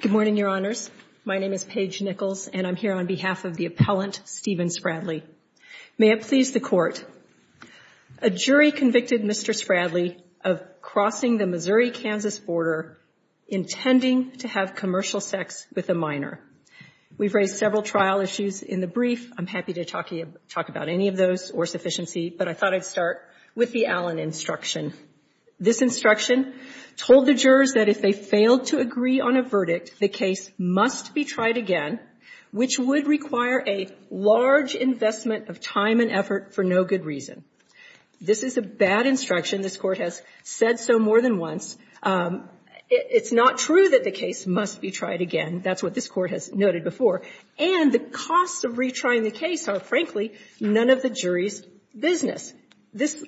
Good morning, Your Honors. My name is Paige Nichols, and I'm here on behalf of the appellant, Stephen Spradley. May it please the Court, a jury convicted Mr. Spradley of crossing the Missouri-Kansas border, intending to have commercial sex with a minor. We've raised several trial issues in the brief. I'm happy to talk about any of those or sufficiency, but I thought I'd start with the Allen instruction. This instruction told the jurors that if they failed to agree on a verdict, the case must be tried again, which would require a large investment of time and effort for no good reason. This is a bad instruction. This Court has said so more than once. It's not true that the case must be tried again. That's what this Court has noted before. And the costs of retrying the case are, frankly, none of the jury's business. This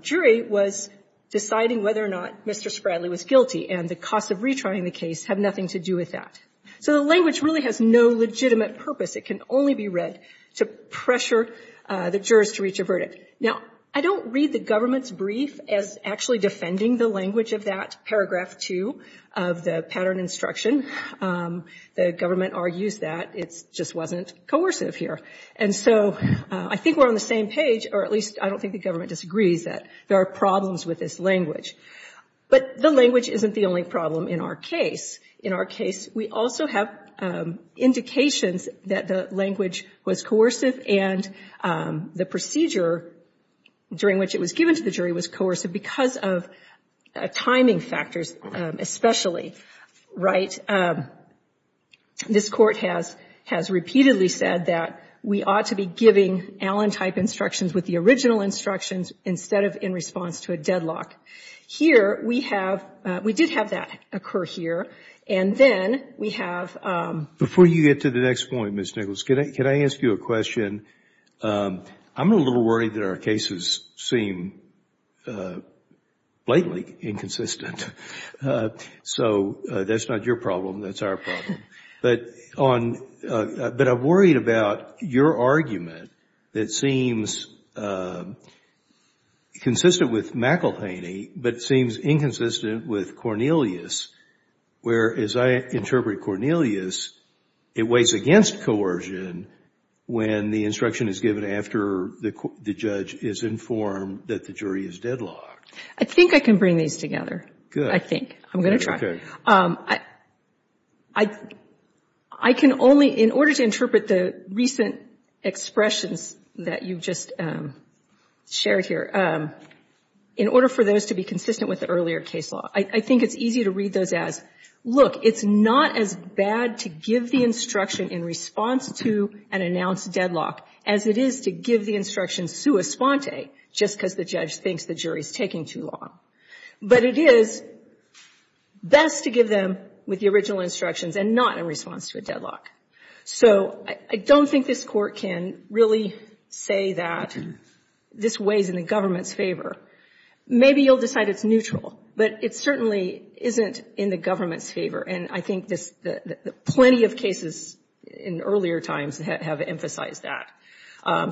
jury was deciding whether or not Mr. Spradley was guilty, and the costs of retrying the case have nothing to do with that. So the language really has no legitimate purpose. It can only be read to pressure the jurors to reach a verdict. Now, I don't read the government's brief as actually defending the language of that paragraph 2 of the pattern instruction. The government argues that it just wasn't coercive here. And so I think we're on the same page, or at least I don't think the government disagrees that there are problems with this language. But the language isn't the only problem in our case. In our case, we also have indications that the language was coercive and the procedure during which it was given to the jury was coercive because of timing factors especially, right? This Court has repeatedly said that we ought to be giving Allen-type instructions with the original instructions instead of in response to a deadlock. Here, we have — we did have that occur here. And then we have — Before you get to the next point, Ms. Nichols, can I ask you a question? I'm a little worried that our cases seem blatantly inconsistent. So that's not your problem, that's our problem. But I'm worried about your argument that seems consistent with McElhaney, but seems inconsistent with Cornelius. Whereas I interpret Cornelius, it weighs against coercion when the instruction is given after the judge is informed that the jury is deadlocked. I think I can bring these together. Good. I think. I'm going to try. Okay. I can only — in order to interpret the recent expressions that you've just shared here, in order for those to be consistent with the earlier case law, I think it's easy to read those as, look, it's not as bad to give the instruction in response to an announced deadlock as it is to give the instruction sua sponte, just because the judge thinks the jury is taking too long. But it is best to give them with the original instructions and not in response to a deadlock. So I don't think this Court can really say that this weighs in the government's favor. Maybe you'll decide it's neutral, but it certainly isn't in the government's favor. And I think plenty of cases in earlier times have emphasized that.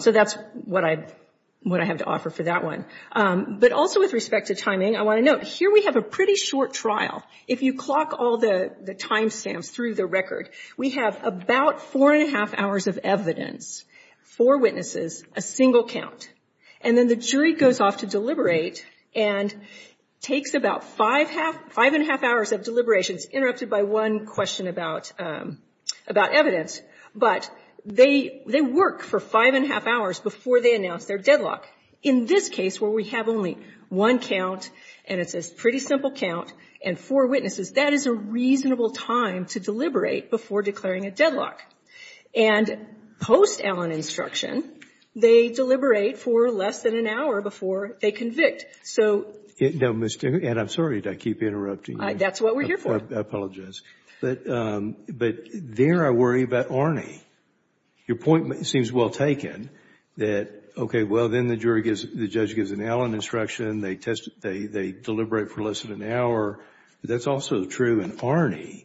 So that's what I have to offer for that one. But also with respect to timing, I want to note, here we have a pretty short trial. If you clock all the timestamps through the record, we have about four and a half hours of evidence, four witnesses, a single count. And then the jury goes off to deliberate and takes about five and a half hours of deliberations, interrupted by one question about evidence. But they work for five and a half hours before they announce their deadlock. In this case, where we have only one count, and it's a pretty simple count, and four witnesses, that is a reasonable time to deliberate before declaring a deadlock. And post-Allen instruction, they deliberate for less than an hour before they convict. So... No, Mr.... And I'm sorry to keep interrupting you. That's what we're here for. I apologize. But there I worry about Arnie. Your point seems well taken, that, okay, well, then the judge gives an Allen instruction, they deliberate for less than an hour. That's also true in Arnie.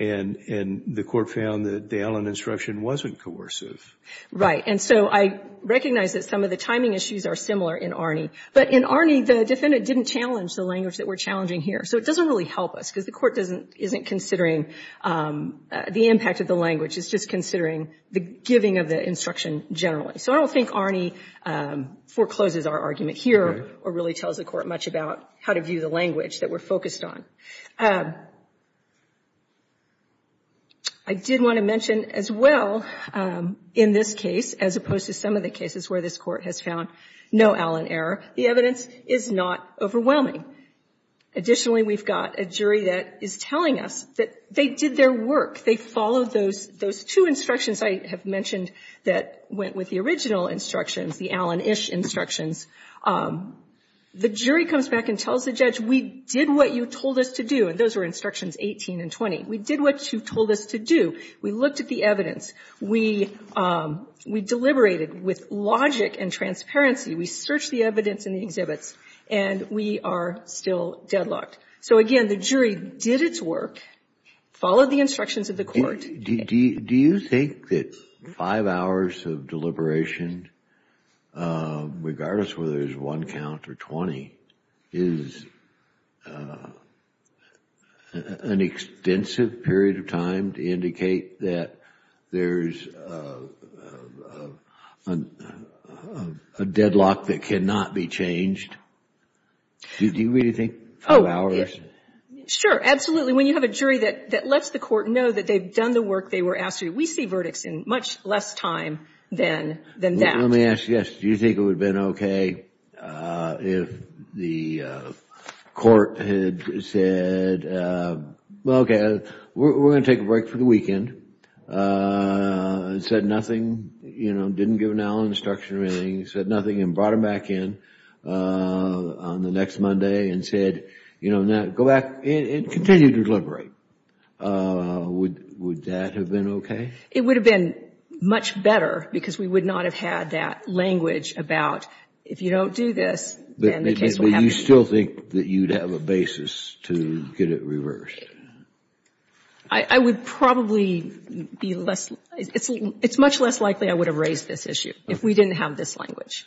And the Court found that the Allen instruction wasn't coercive. And so I recognize that some of the timing issues are similar in Arnie. But in Arnie, the defendant didn't challenge the language that we're challenging here. So it doesn't really help us, because the Court isn't considering the impact of the language. It's just considering the giving of the instruction generally. So I don't think Arnie forecloses our argument here or really tells the Court much about how to view the language that we're focused on. I did want to mention as well, in this case, as opposed to some of the cases where this Court has found no Allen error, the evidence is not overwhelming. Additionally, we've got a jury that is telling us that they did their work. They followed those two instructions I have mentioned that went with the original instructions, the Allen-ish instructions. The jury comes back and tells the judge, we did what you told us to do. And those were instructions 18 and 20. We did what you told us to do. We looked at the evidence. We deliberated with logic and transparency. We searched the evidence in the exhibits. And we are still deadlocked. So again, the jury did its work, followed the instructions of the Court. Do you think that five hours of deliberation, regardless whether it's one count or 20, is an extensive period of time to indicate that there's a deadlock that cannot be changed? Do you really think five hours? Sure, absolutely. When you have a jury that lets the Court know that they've done the work they were asked to do, we see verdicts in much less time than that. Let me ask you this. Do you think it would have been okay if the Court had said, well, okay, we're going to take a break for the weekend, said nothing, you know, didn't give an Allen instruction or anything, said nothing, and brought him back in on the next Monday and said, you know, go back. And continue to deliberate. Would that have been okay? It would have been much better, because we would not have had that language about if you don't do this, then the case will happen. But you still think that you'd have a basis to get it reversed? I would probably be less, it's much less likely I would have raised this issue if we didn't have this language,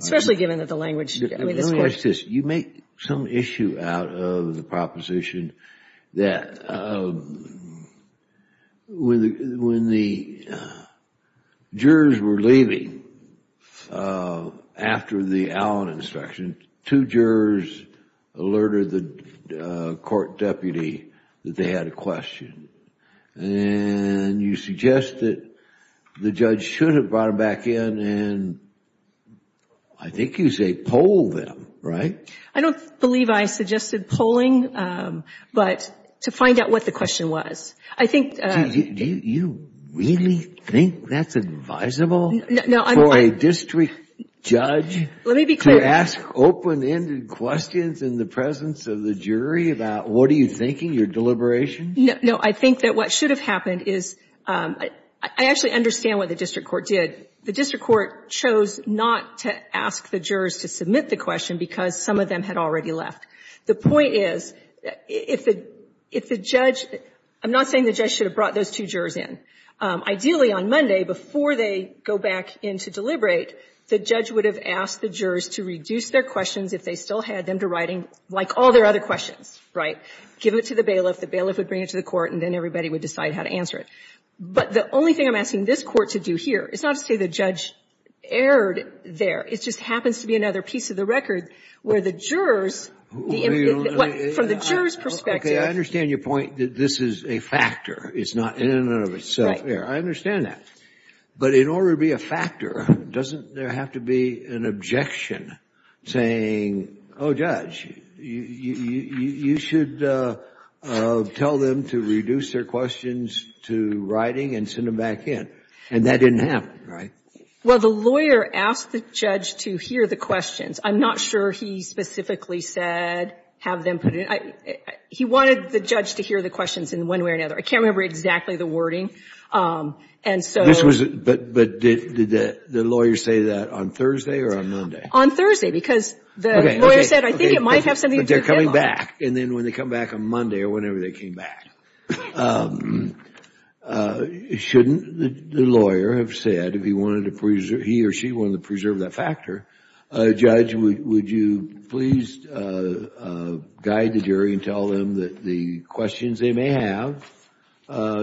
especially given that the language, I mean, this question. You make some issue out of the proposition that when the jurors were leaving after the Allen instruction, two jurors alerted the court deputy that they had a question. And you suggest that the judge should have brought him back in and I think you say poll them, right? I don't believe I suggested polling, but to find out what the question was. Do you really think that's advisable for a district judge to ask open-ended questions in the presence of the jury about what are you thinking, your deliberation? No, I think that what should have happened is, I actually understand what the district court did. The district court chose not to ask the jurors to submit the question because some of them had already left. The point is, if the judge, I'm not saying the judge should have brought those two jurors in. Ideally, on Monday, before they go back in to deliberate, the judge would have asked the jurors to reduce their questions if they still had them to writing, like all their other questions, right? Give it to the bailiff, the bailiff would bring it to the court, and then everybody would decide how to answer it. But the only thing I'm asking this Court to do here is not to say the judge erred there. It just happens to be another piece of the record where the jurors, from the jurors' perspective. I understand your point that this is a factor. It's not in and of itself. I understand that. But in order to be a factor, doesn't there have to be an objection saying, oh, judge, you should tell them to reduce their questions to writing and send them back in? And that didn't happen, right? Well, the lawyer asked the judge to hear the questions. I'm not sure he specifically said have them put in. He wanted the judge to hear the questions in one way or another. I can't remember exactly the wording. And so this was. But did the lawyer say that on Thursday or on Monday? On Thursday. Because the lawyer said, I think it might have something to do with him. But they're coming back. And then when they come back on Monday or whenever they came back, shouldn't the lawyer have said if he wanted to preserve, he or she wanted to preserve that factor, judge, would you please guide the jury and tell them that the questions they may have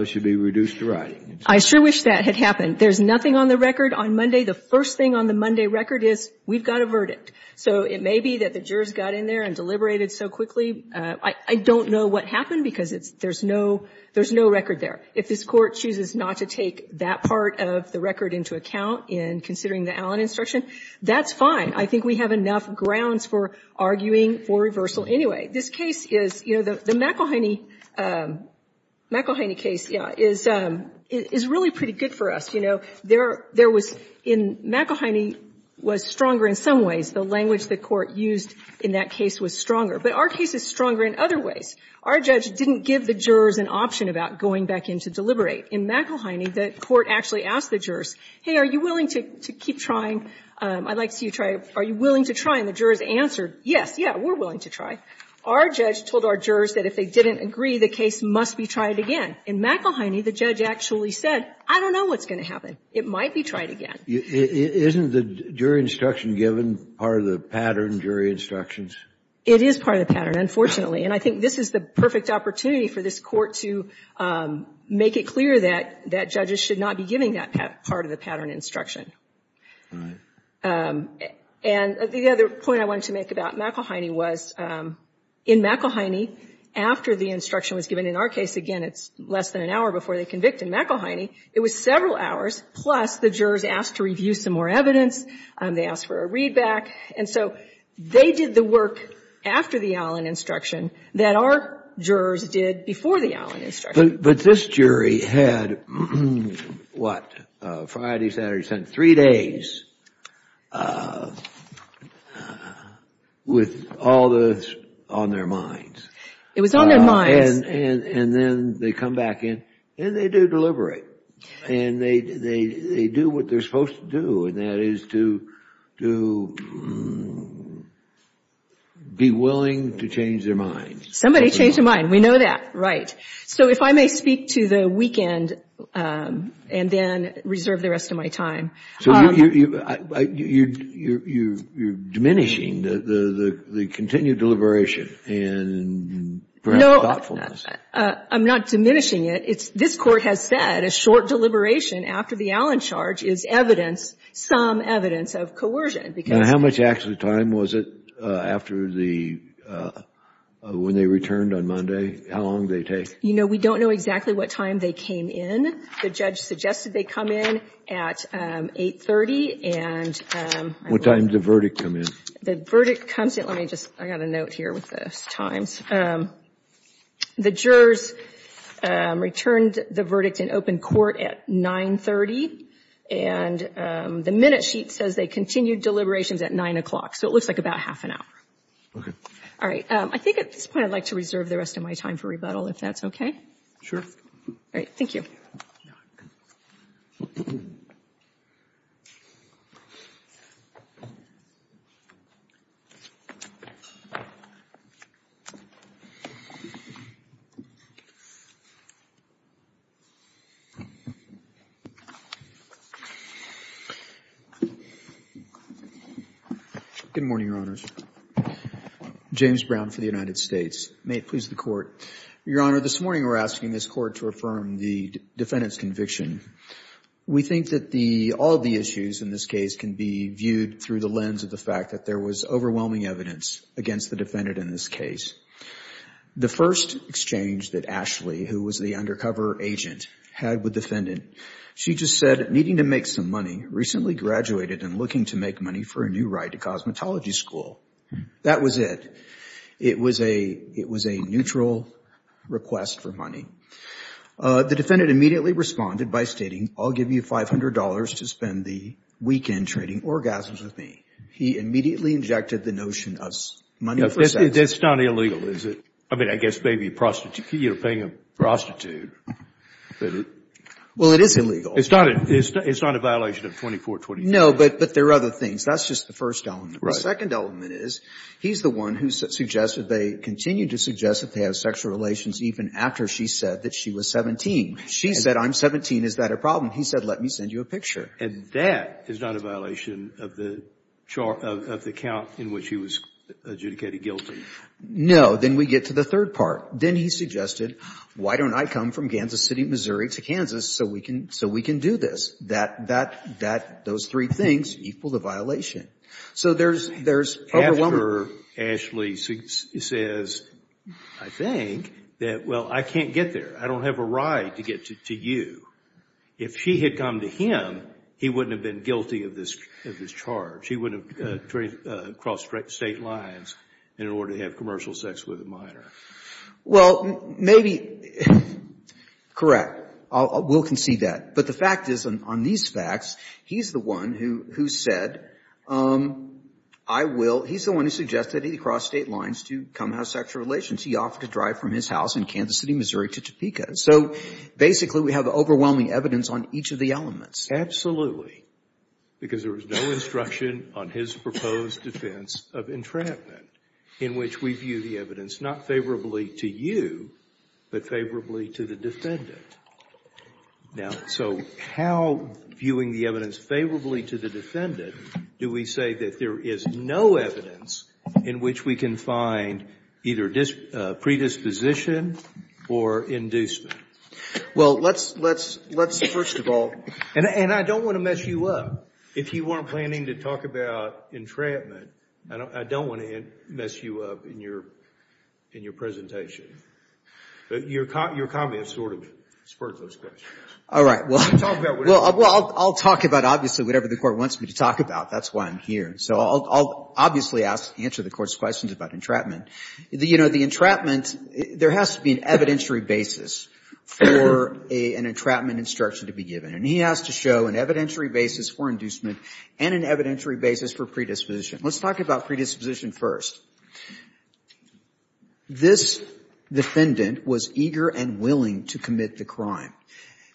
should be reduced to writing? I sure wish that had happened. There's nothing on the record on Monday. The first thing on the Monday record is we've got a verdict. So it may be that the jurors got in there and deliberated so quickly. I don't know what happened because there's no record there. If this Court chooses not to take that part of the record into account in considering the Allen instruction, that's fine. I think we have enough grounds for arguing for reversal anyway. This case is, you know, the McElhaney case is really pretty good for us. You know, there was in McElhaney was stronger in some ways. The language the Court used in that case was stronger. But our case is stronger in other ways. Our judge didn't give the jurors an option about going back in to deliberate. In McElhaney, the Court actually asked the jurors, hey, are you willing to keep trying? I'd like to see you try. Are you willing to try? And the jurors answered, yes, yeah, we're willing to try. Our judge told our jurors that if they didn't agree, the case must be tried again. In McElhaney, the judge actually said, I don't know what's going to happen. It might be tried again. Isn't the jury instruction given part of the pattern, jury instructions? It is part of the pattern, unfortunately. And I think this is the perfect opportunity for this Court to make it clear that judges should not be giving that part of the pattern instruction. And the other point I wanted to make about McElhaney was in McElhaney, after the instruction was given, in our case, again, it's less than an hour before they convicted McElhaney. It was several hours, plus the jurors asked to review some more evidence. They asked for a readback. And so they did the work after the Allen instruction that our jurors did before the Allen instruction. But this jury had, what, Friday, Saturday, Sunday, three days with all this on their minds. It was on their minds. And then they come back in, and they do deliberate. And they do what they're supposed to do, and that is to be willing to change their minds. Somebody changed their mind. We know that. Right. So if I may speak to the weekend and then reserve the rest of my time. So you're diminishing the continued deliberation and perhaps thoughtfully. I'm not diminishing it. This Court has said a short deliberation after the Allen charge is evidence, some evidence of coercion. Now, how much actual time was it after the, when they returned on Monday? How long did they take? You know, we don't know exactly what time they came in. The judge suggested they come in at 8.30. What time did the verdict come in? The verdict comes in, let me just, I've got a note here with the times. The jurors returned the verdict in open court at 9.30. And the minute sheet says they continued deliberations at 9 o'clock. So it looks like about half an hour. All right. I think at this point I'd like to reserve the rest of my time for rebuttal, if that's okay. Sure. All right. Thank you. Good morning, Your Honors. James Brown for the United States. May it please the Court. Your Honor, this morning we're asking this Court to affirm the defendant's conviction. We think that the, all of the issues in this case can be viewed through the lens of the fact that there was overwhelming evidence against the defendant in this case. The first exchange that Ashley, who was the undercover agent, had with the defendant, she just said, needing to make some money, recently graduated and looking to make money for a new ride to cosmetology school. That was it. It was a neutral request for money. The defendant immediately responded by stating, I'll give you $500 to spend the weekend trading orgasms with me. He immediately injected the notion of money for sex. That's not illegal, is it? I mean, I guess maybe a prostitute, you know, paying a prostitute. Well, it is illegal. It's not a violation of 2424. No, but there are other things. That's just the first element. The second element is, he's the one who suggested, they continued to suggest that they have sexual relations even after she said that she was 17. She said, I'm 17, is that a problem? He said, let me send you a picture. And that is not a violation of the count in which he was adjudicated guilty. No, then we get to the third part. Then he suggested, why don't I come from Kansas City, Missouri to Kansas so we can do this? That those three things equal the violation. So there's overwhelmingly... After Ashley says, I think, that, well, I can't get there. I don't have a ride to get to you. If she had come to him, he wouldn't have been guilty of this charge. He wouldn't have crossed state lines in order to have commercial sex with a minor. Well, maybe, correct. We'll concede that. But the fact is, on these facts, he's the one who said, I will, he's the one who suggested he cross state lines to come have sexual relations. He offered to drive from his house in Kansas City, Missouri to Topeka. So, basically, we have overwhelming evidence on each of the elements. Absolutely. Because there was no instruction on his proposed defense of entrapment, in which we view the evidence not favorably to you, but favorably to the defendant. Now, so how, viewing the evidence favorably to the defendant, do we say that there is no evidence in which we can find either predisposition or inducement? Well, let's first of all... And I don't want to mess you up. If you weren't planning to talk about entrapment, I don't want to mess you up in your presentation. But your comments sort of spurred those questions. All right. Well, I'll talk about obviously whatever the Court wants me to talk about. That's why I'm here. So I'll obviously answer the Court's questions about entrapment. You know, the entrapment, there has to be an evidentiary basis for an entrapment instruction to be given. And he has to show an evidentiary basis for inducement and an evidentiary basis for predisposition. Let's talk about predisposition first. This defendant was eager and willing to commit the crime.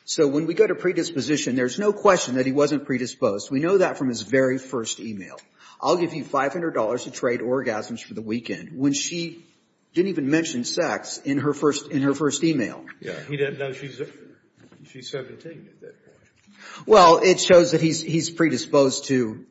So when we go to predisposition, there's no question that he wasn't predisposed. We know that from his very first e-mail. I'll give you $500 to trade orgasms for the weekend when she didn't even mention sex in her first e-mail. Yeah. He didn't know she's 17 at that point. Well, it shows that he's predisposed to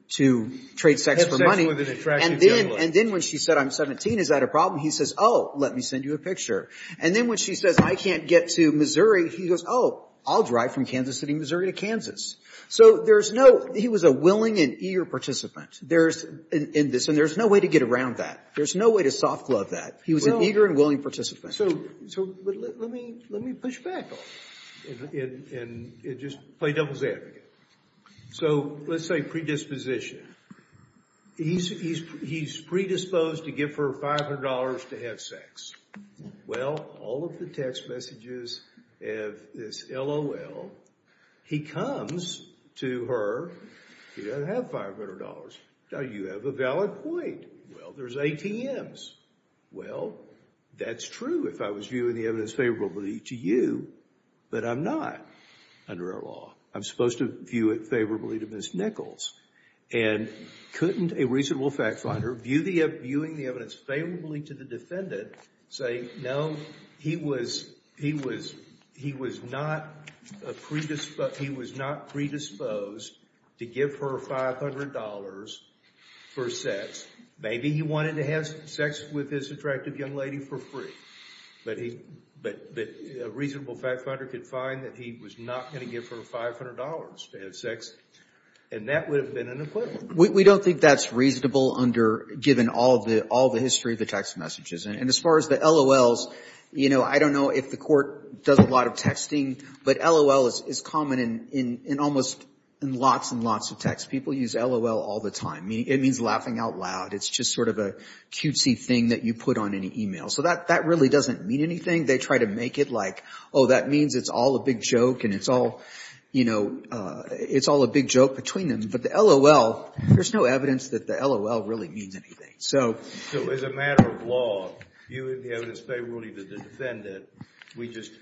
trade sex for money. And then when she said, I'm 17, is that a problem? He says, oh, let me send you a picture. And then when she says, I can't get to Missouri, he goes, oh, I'll drive from Kansas City, Missouri, to Kansas. So there's no he was a willing and eager participant in this. And there's no way to get around that. There's no way to soft glove that. He was an eager and willing participant. So let me push back on that and just play devil's advocate. So let's say predisposition. He's predisposed to give her $500 to have sex. Well, all of the text messages have this LOL. He comes to her. He doesn't have $500. Now, you have a valid point. Well, there's ATMs. Well, that's true if I was viewing the evidence favorably to you. But I'm not under our law. I'm supposed to view it favorably to Ms. Nichols. And couldn't a reasonable fact finder, viewing the evidence favorably to the defendant, say, no, he was not predisposed to give her $500 for sex. Maybe he wanted to have sex with this attractive young lady for free. But a reasonable fact finder could find that he was not going to give her $500 to have sex. And that would have been an acquittal. We don't think that's reasonable given all the history of the text messages. And as far as the LOLs, I don't know if the court does a lot of texting. But LOL is common in almost lots and lots of texts. People use LOL all the time. It means laughing out loud. It's just sort of a cutesy thing that you put on an email. So that really doesn't mean anything. They try to make it like, oh, that means it's all a big joke. And it's all a big joke between them. But the LOL, there's no evidence that the LOL really means anything. So as a matter of law, viewing the evidence favorably to the defendant, we just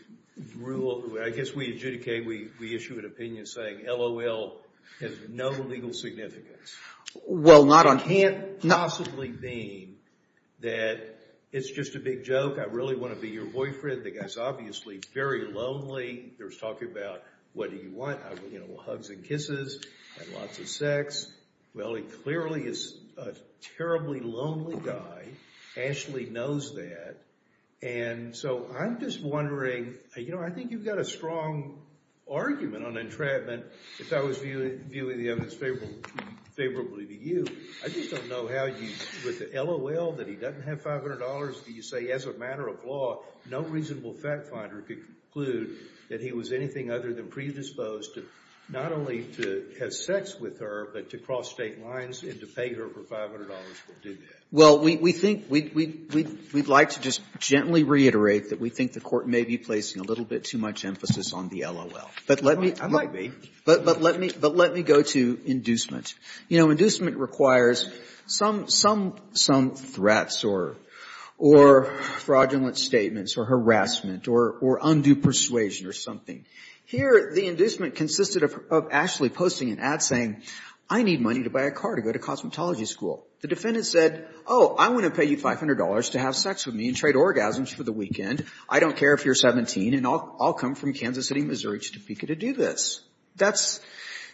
rule. I guess we adjudicate. We issue an opinion saying LOL has no legal significance. Well, not on hand. Possibly being that it's just a big joke. I really want to be your boyfriend. The guy's obviously very lonely. There's talk about what do you want? Hugs and kisses and lots of sex. Well, he clearly is a terribly lonely guy. Ashley knows that. And so I'm just wondering. I think you've got a strong argument on entrapment If I was viewing the evidence favorably to you, I just don't know how you, with the LOL, that he doesn't have $500, that you say, as a matter of law, no reasonable fact finder could conclude that he was anything other than predisposed not only to have sex with her, but to cross state lines and to pay her for $500 will do that. Well, we'd like to just gently reiterate that we think the court may be placing a little bit too much emphasis on the LOL. I might be. But let me go to inducement. Inducement requires some threats or fraudulent statements or harassment or undue persuasion or something. Here, the inducement consisted of Ashley posting an ad saying, I need money to buy a car to go to cosmetology school. The defendant said, oh, I want to pay you $500 to have sex with me and trade orgasms for the weekend. I don't care if you're 17, and I'll come from Kansas City, Missouri to Topeka to do this. That's,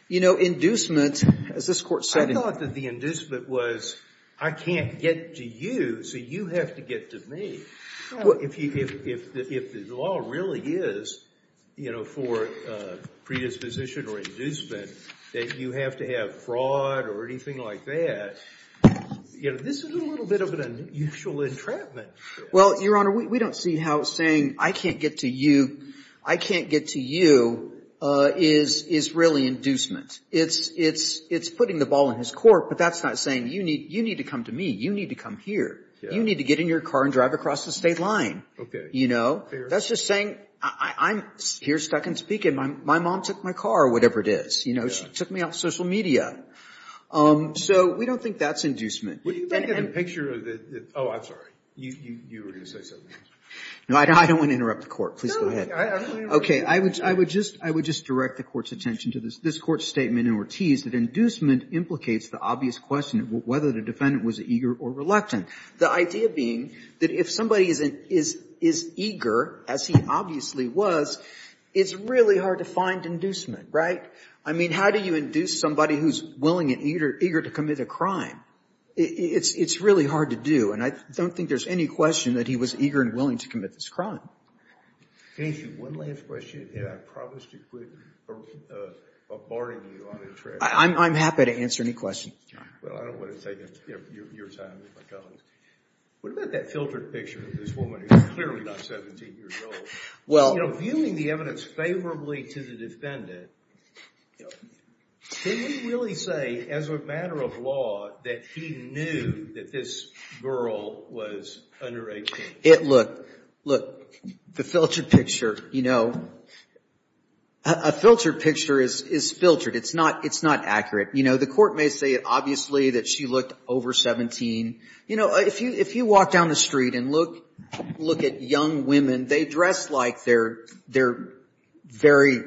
you know, inducement, as this Court said. I thought that the inducement was, I can't get to you, so you have to get to me. If the LOL really is, you know, for predisposition or inducement, that you have to have fraud or anything like that, you know, this is a little bit of an unusual entrapment. Well, Your Honor, we don't see how saying, I can't get to you, I can't get to you, is really inducement. It's putting the ball in his court. But that's not saying, you need to come to me. You need to come here. You need to get in your car and drive across the state line. You know, that's just saying, I'm here, stuck in Topeka. My mom took my car or whatever it is. You know, she took me off social media. So we don't think that's inducement. What do you think of the picture of the, oh, I'm sorry. You were going to say something else. No, I don't want to interrupt the Court. Please go ahead. No, I don't want to interrupt the Court. Okay, I would just direct the Court's attention to this Court's statement in Ortiz that inducement implicates the obvious question of whether the defendant was eager or reluctant. The idea being that if somebody is eager, as he obviously was, it's really hard to find inducement, right? I mean, how do you induce somebody who's willing and eager to commit a crime? It's really hard to do. And I don't think there's any question that he was eager and willing to commit this crime. Can I ask you one last question? And I promise to quit barring you on this track. I'm happy to answer any questions. Well, I don't want to take your time with my colleagues. What about that filtered picture of this woman who's clearly not 17 years old? Well, you know, viewing the evidence favorably to the defendant, can we really say as a matter of law that he knew that this girl was under 18? Look, look, the filtered picture, you know, a filtered picture is filtered. It's not accurate. You know, the Court may say it obviously that she looked over 17. You know, if you walk down the street and look at young women, they dress like they're very...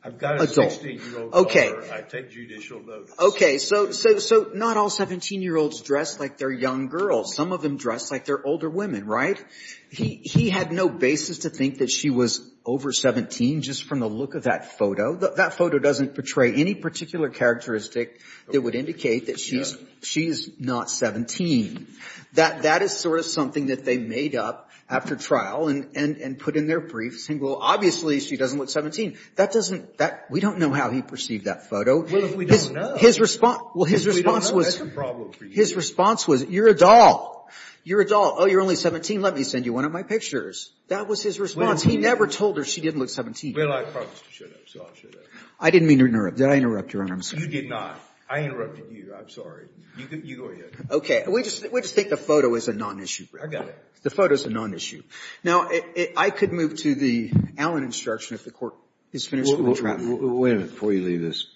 Adult. I've got a 16-year-old daughter. I take judicial notice. Okay, so not all 17-year-olds dress like they're young girls. Some of them dress like they're older women, right? He had no basis to think that she was over 17 just from the look of that photo. That photo doesn't portray any particular characteristic that would indicate that she's not 17. That is sort of something that they made up after trial and put in their briefs saying, well, obviously she doesn't look 17. That doesn't, that, we don't know how he perceived that photo. Well, if we don't know. His response, well, his response was. If we don't know, that's a problem for you. His response was, you're a doll. You're a doll. Oh, you're only 17? Let me send you one of my pictures. That was his response. He never told her she didn't look 17. Well, I promised to shut up, so I'll shut up. I didn't mean to interrupt. Did I interrupt, Your Honor? I'm sorry. You did not. I interrupted you. I'm sorry. You go ahead. Okay. We just think the photo is a non-issue. I got it. The photo is a non-issue. Now, I could move to the Allen instruction if the Court is finished with the trap. Wait a minute before you leave this.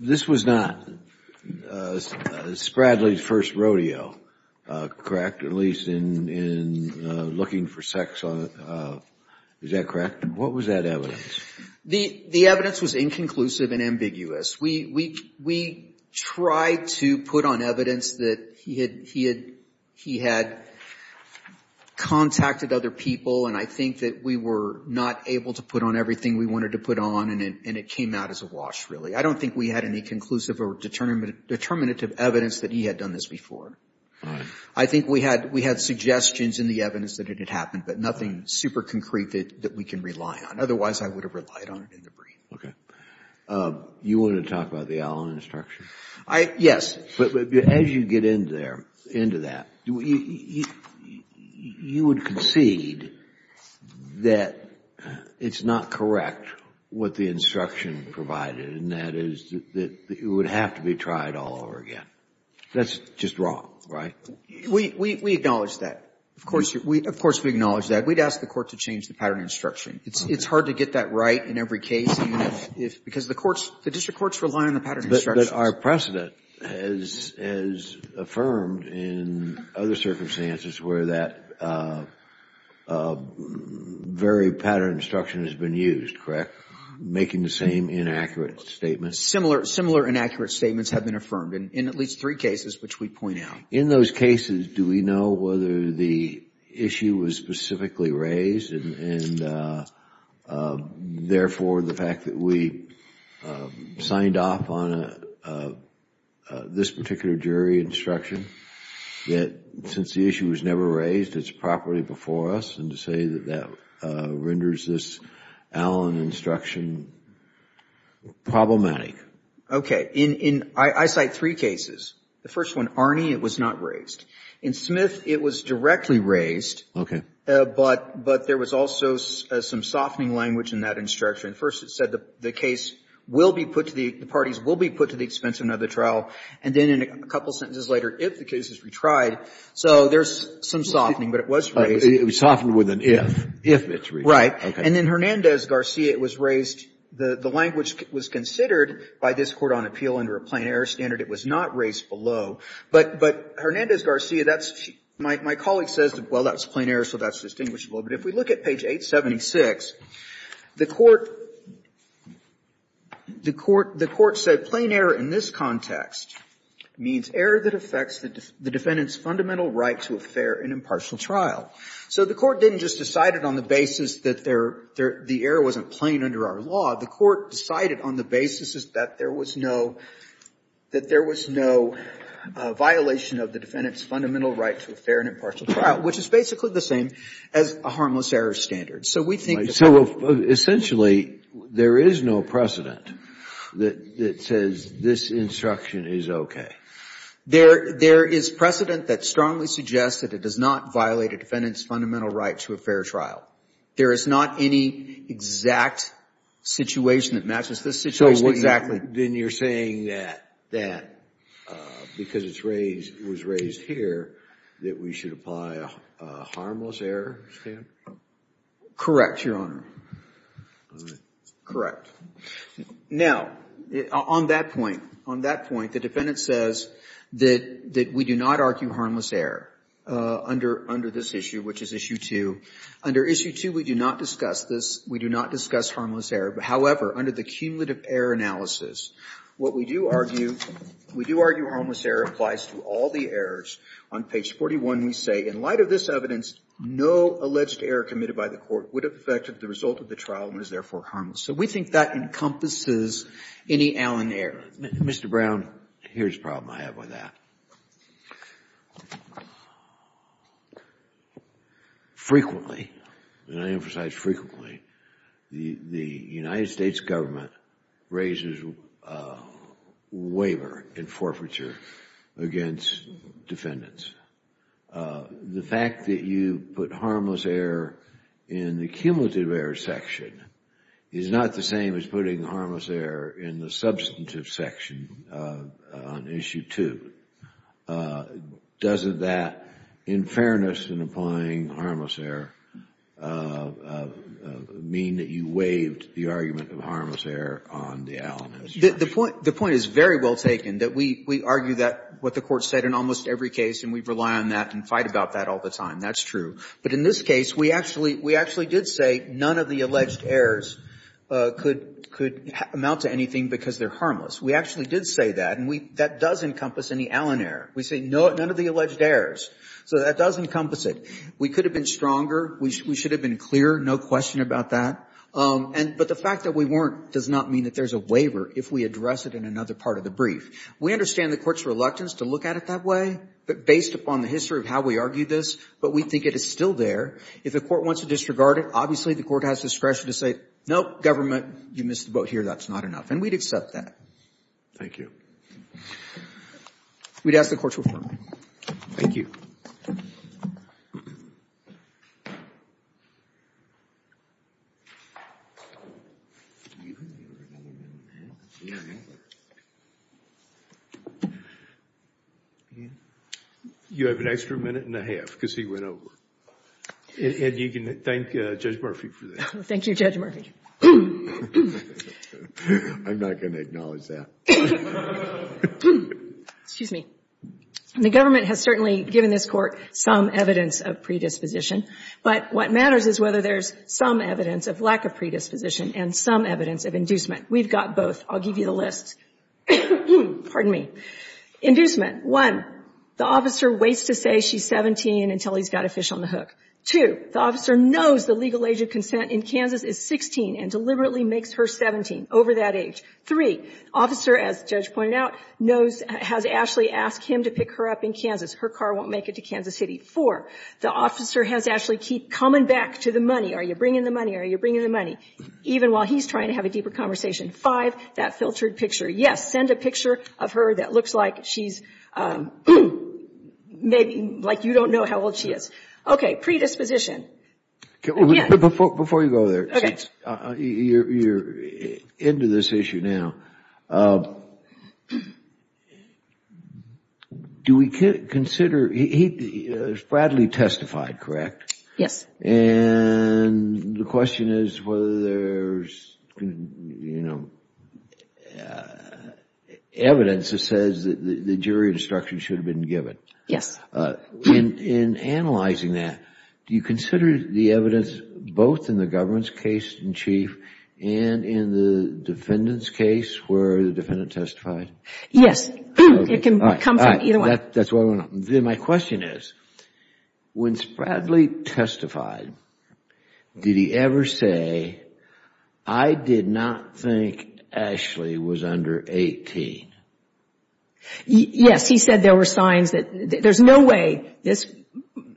This was not Spradley's first rodeo, correct? At least in looking for sex on, is that correct? What was that evidence? The evidence was inconclusive and ambiguous. We tried to put on evidence that he had contacted other people, and I think that we were not able to put on everything we wanted to put on, and it came out as a wash, really. I don't think we had any conclusive or determinative evidence that he had done this before. I think we had suggestions in the evidence that it had happened, but nothing super concrete that we can rely on. Otherwise, I would have relied on it in the brief. Okay. You want to talk about the Allen instruction? Yes. As you get into that, you would concede that it's not correct what the instruction provided, and that is that it would have to be tried all over again. That's just wrong, right? We acknowledge that. Of course, we acknowledge that. We'd ask the Court to change the pattern instruction. It's hard to get that right in every case, because the courts, the district courts rely on the pattern instructions. But our precedent has affirmed in other circumstances where that very pattern instruction has been used, correct? Making the same inaccurate statements. Similar inaccurate statements have been affirmed in at least three cases, which we point out. In those cases, do we know whether the issue was specifically raised, and therefore, the fact that we signed off on this particular jury instruction, that since the issue was never raised, it's properly before us, and to say that that renders this Allen instruction problematic? Okay. I cite three cases. The first one, Arnie, it was not raised. In Smith, it was directly raised. But there was also some softening language in that instruction. First, it said the case will be put to the parties, will be put to the expense of another trial, and then a couple sentences later, if the case is retried. So there's some softening, but it was raised. It was softened with an if. If it's retried. Right. And in Hernandez-Garcia, it was raised. The language was considered by this Court on appeal under a plain error standard. It was not raised below. But Hernandez-Garcia, that's my colleague says, well, that's plain error, so that's distinguishable. But if we look at page 876, the Court said plain error in this context means error that affects the defendant's fundamental right to a fair and impartial trial. So the Court didn't just decide it on the basis that the error wasn't plain under our law. The Court decided on the basis that there was no violation of the defendant's fundamental right to a fair and impartial trial, which is basically the same as a harmless error standard. So we think that... So essentially, there is no precedent that says this instruction is okay. There is precedent that strongly suggests that it does not violate a defendant's fundamental right to a fair trial. There is not any exact situation that matches this situation. So what exactly? Then you're saying that because it was raised here that we should apply a harmless error standard? Correct, Your Honor. Correct. Now, on that point, on that point, the defendant says that we do not argue harmless error under this issue, which is issue 2. Under issue 2, we do not discuss this. We do not discuss harmless error. However, under the cumulative error analysis, what we do argue, we do argue harmless error applies to all the errors. On page 41, we say, in light of this evidence, no alleged error committed by the Court would have affected the result of the trial and was therefore harmless. So we think that encompasses any Allen error. Mr. Brown, here's a problem I have with that. Frequently, and I emphasize frequently, the United States Government raises a waiver in forfeiture against defendants. The fact that you put harmless error in the cumulative error section is not the same as putting harmless error in the substantive section on issue 2. Doesn't that, in fairness in applying harmless error, mean that you waived the argument of harmless error on the Allen investigation? The point is very well taken, that we argue that what the Court said in almost every case, and we rely on that and fight about that all the time. That's true. But in this case, we actually did say none of the alleged errors could amount to anything because they're harmless. We actually did say that, and that does encompass any Allen error. We say none of the alleged errors. So that does encompass it. We could have been stronger. We should have been clearer. No question about that. But the fact that we weren't does not mean that there's a waiver if we address it in another part of the brief. We understand the Court's reluctance to look at it that way, but based upon the history of how we argued this, but we think it is still there. If the Court wants to disregard it, obviously, the Court has discretion to say, no, Government, you missed the boat here. That's not enough. And we'd accept that. Thank you. We'd ask the Court to affirm. Thank you. You have an extra minute and a half because he went over. And you can thank Judge Murphy for that. Thank you, Judge Murphy. I'm not going to acknowledge that. Excuse me. The Government has certainly given this Court some evidence of predisposition. But what matters is whether there's some evidence of lack of predisposition and some evidence of inducement. We've got both. I'll give you the list. Pardon me. Inducement. One, the officer waits to say she's 17 until he's got a fish on the hook. Two, the officer knows the legal age of consent in Kansas is 16 and deliberately makes her 17 over that age. Three, the officer, as the Judge pointed out, knows, has Ashley ask him to pick her up in Kansas. Her car won't make it to Kansas City. Four, the officer has Ashley keep coming back to the money. Are you bringing the money? Are you bringing the money? Even while he's trying to have a deeper conversation. Five, that filtered picture. Yes, send a picture of her that looks like she's, like you don't know how old she is. Okay. Predisposition. Before you go there, you're into this issue now. Do we consider, Bradley testified, correct? Yes. And the question is whether there's, you know, evidence that says that the jury instruction should have been given. Yes. In analyzing that, do you consider the evidence both in the government's case in chief and in the defendant's case where the defendant testified? Yes. It can come from either one. That's what I want to know. Then my question is, when Bradley testified, did he ever say, I did not think Ashley was under 18? Yes. He said there were signs that there's no way this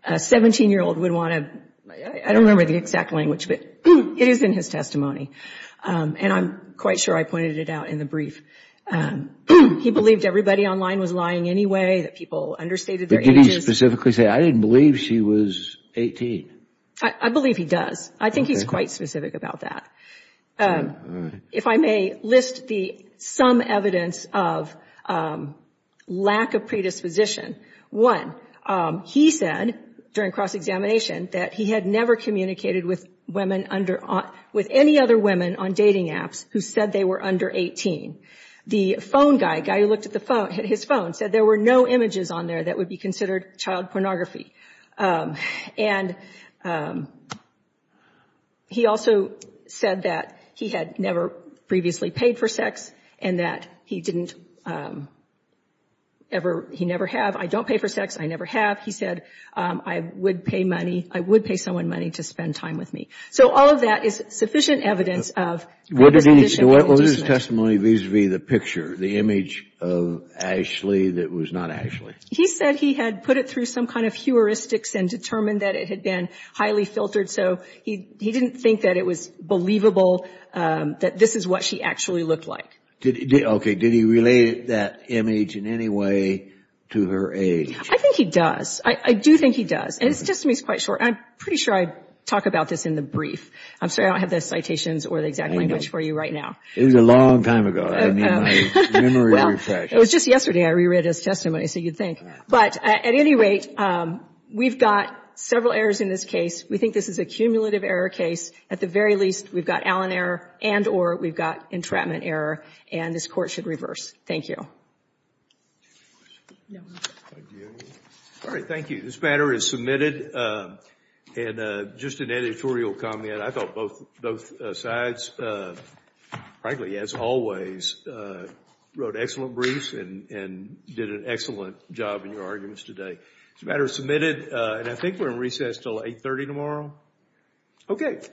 17-year-old would want to, I don't remember the exact language, but it is in his testimony. And I'm quite sure I pointed it out in the brief. He believed everybody online was lying anyway, that people understated their ages. Did he specifically say, I didn't believe she was 18? I believe he does. I think he's quite specific about that. If I may list the some evidence of lack of predisposition. One, he said during cross-examination that he had never communicated with women under, with any other women on dating apps who said they were under 18. The phone guy, the guy who looked at his phone, said there were no images on there that would be considered child pornography. And he also said that he had never previously paid for sex and that he didn't ever, he never have. I don't pay for sex. I never have. He said, I would pay money. I would pay someone money to spend time with me. So all of that is sufficient evidence of predisposition. What was his testimony vis-a-vis the picture, the image of Ashley that was not Ashley? He said he had put it through some kind of heuristics and determined that it had been highly filtered. So he didn't think that it was believable that this is what she actually looked like. Did he, okay, did he relate that image in any way to her age? I think he does. I do think he does. And his testimony is quite short. I'm pretty sure I talk about this in the brief. I'm sorry, I don't have the citations or the exact language for you right now. It was a long time ago. I need my memory refreshed. It was just yesterday I reread his testimony, so you'd think. But at any rate, we've got several errors in this case. We think this is a cumulative error case. At the very least, we've got Allen error and or we've got entrapment error, and this Court should reverse. Thank you. All right, thank you. This matter is submitted. And just an editorial comment. I thought both sides, frankly, as always, wrote excellent briefs and did an excellent job in your arguments today. This matter is submitted, and I think we're in recess until 8.30 tomorrow. Okay.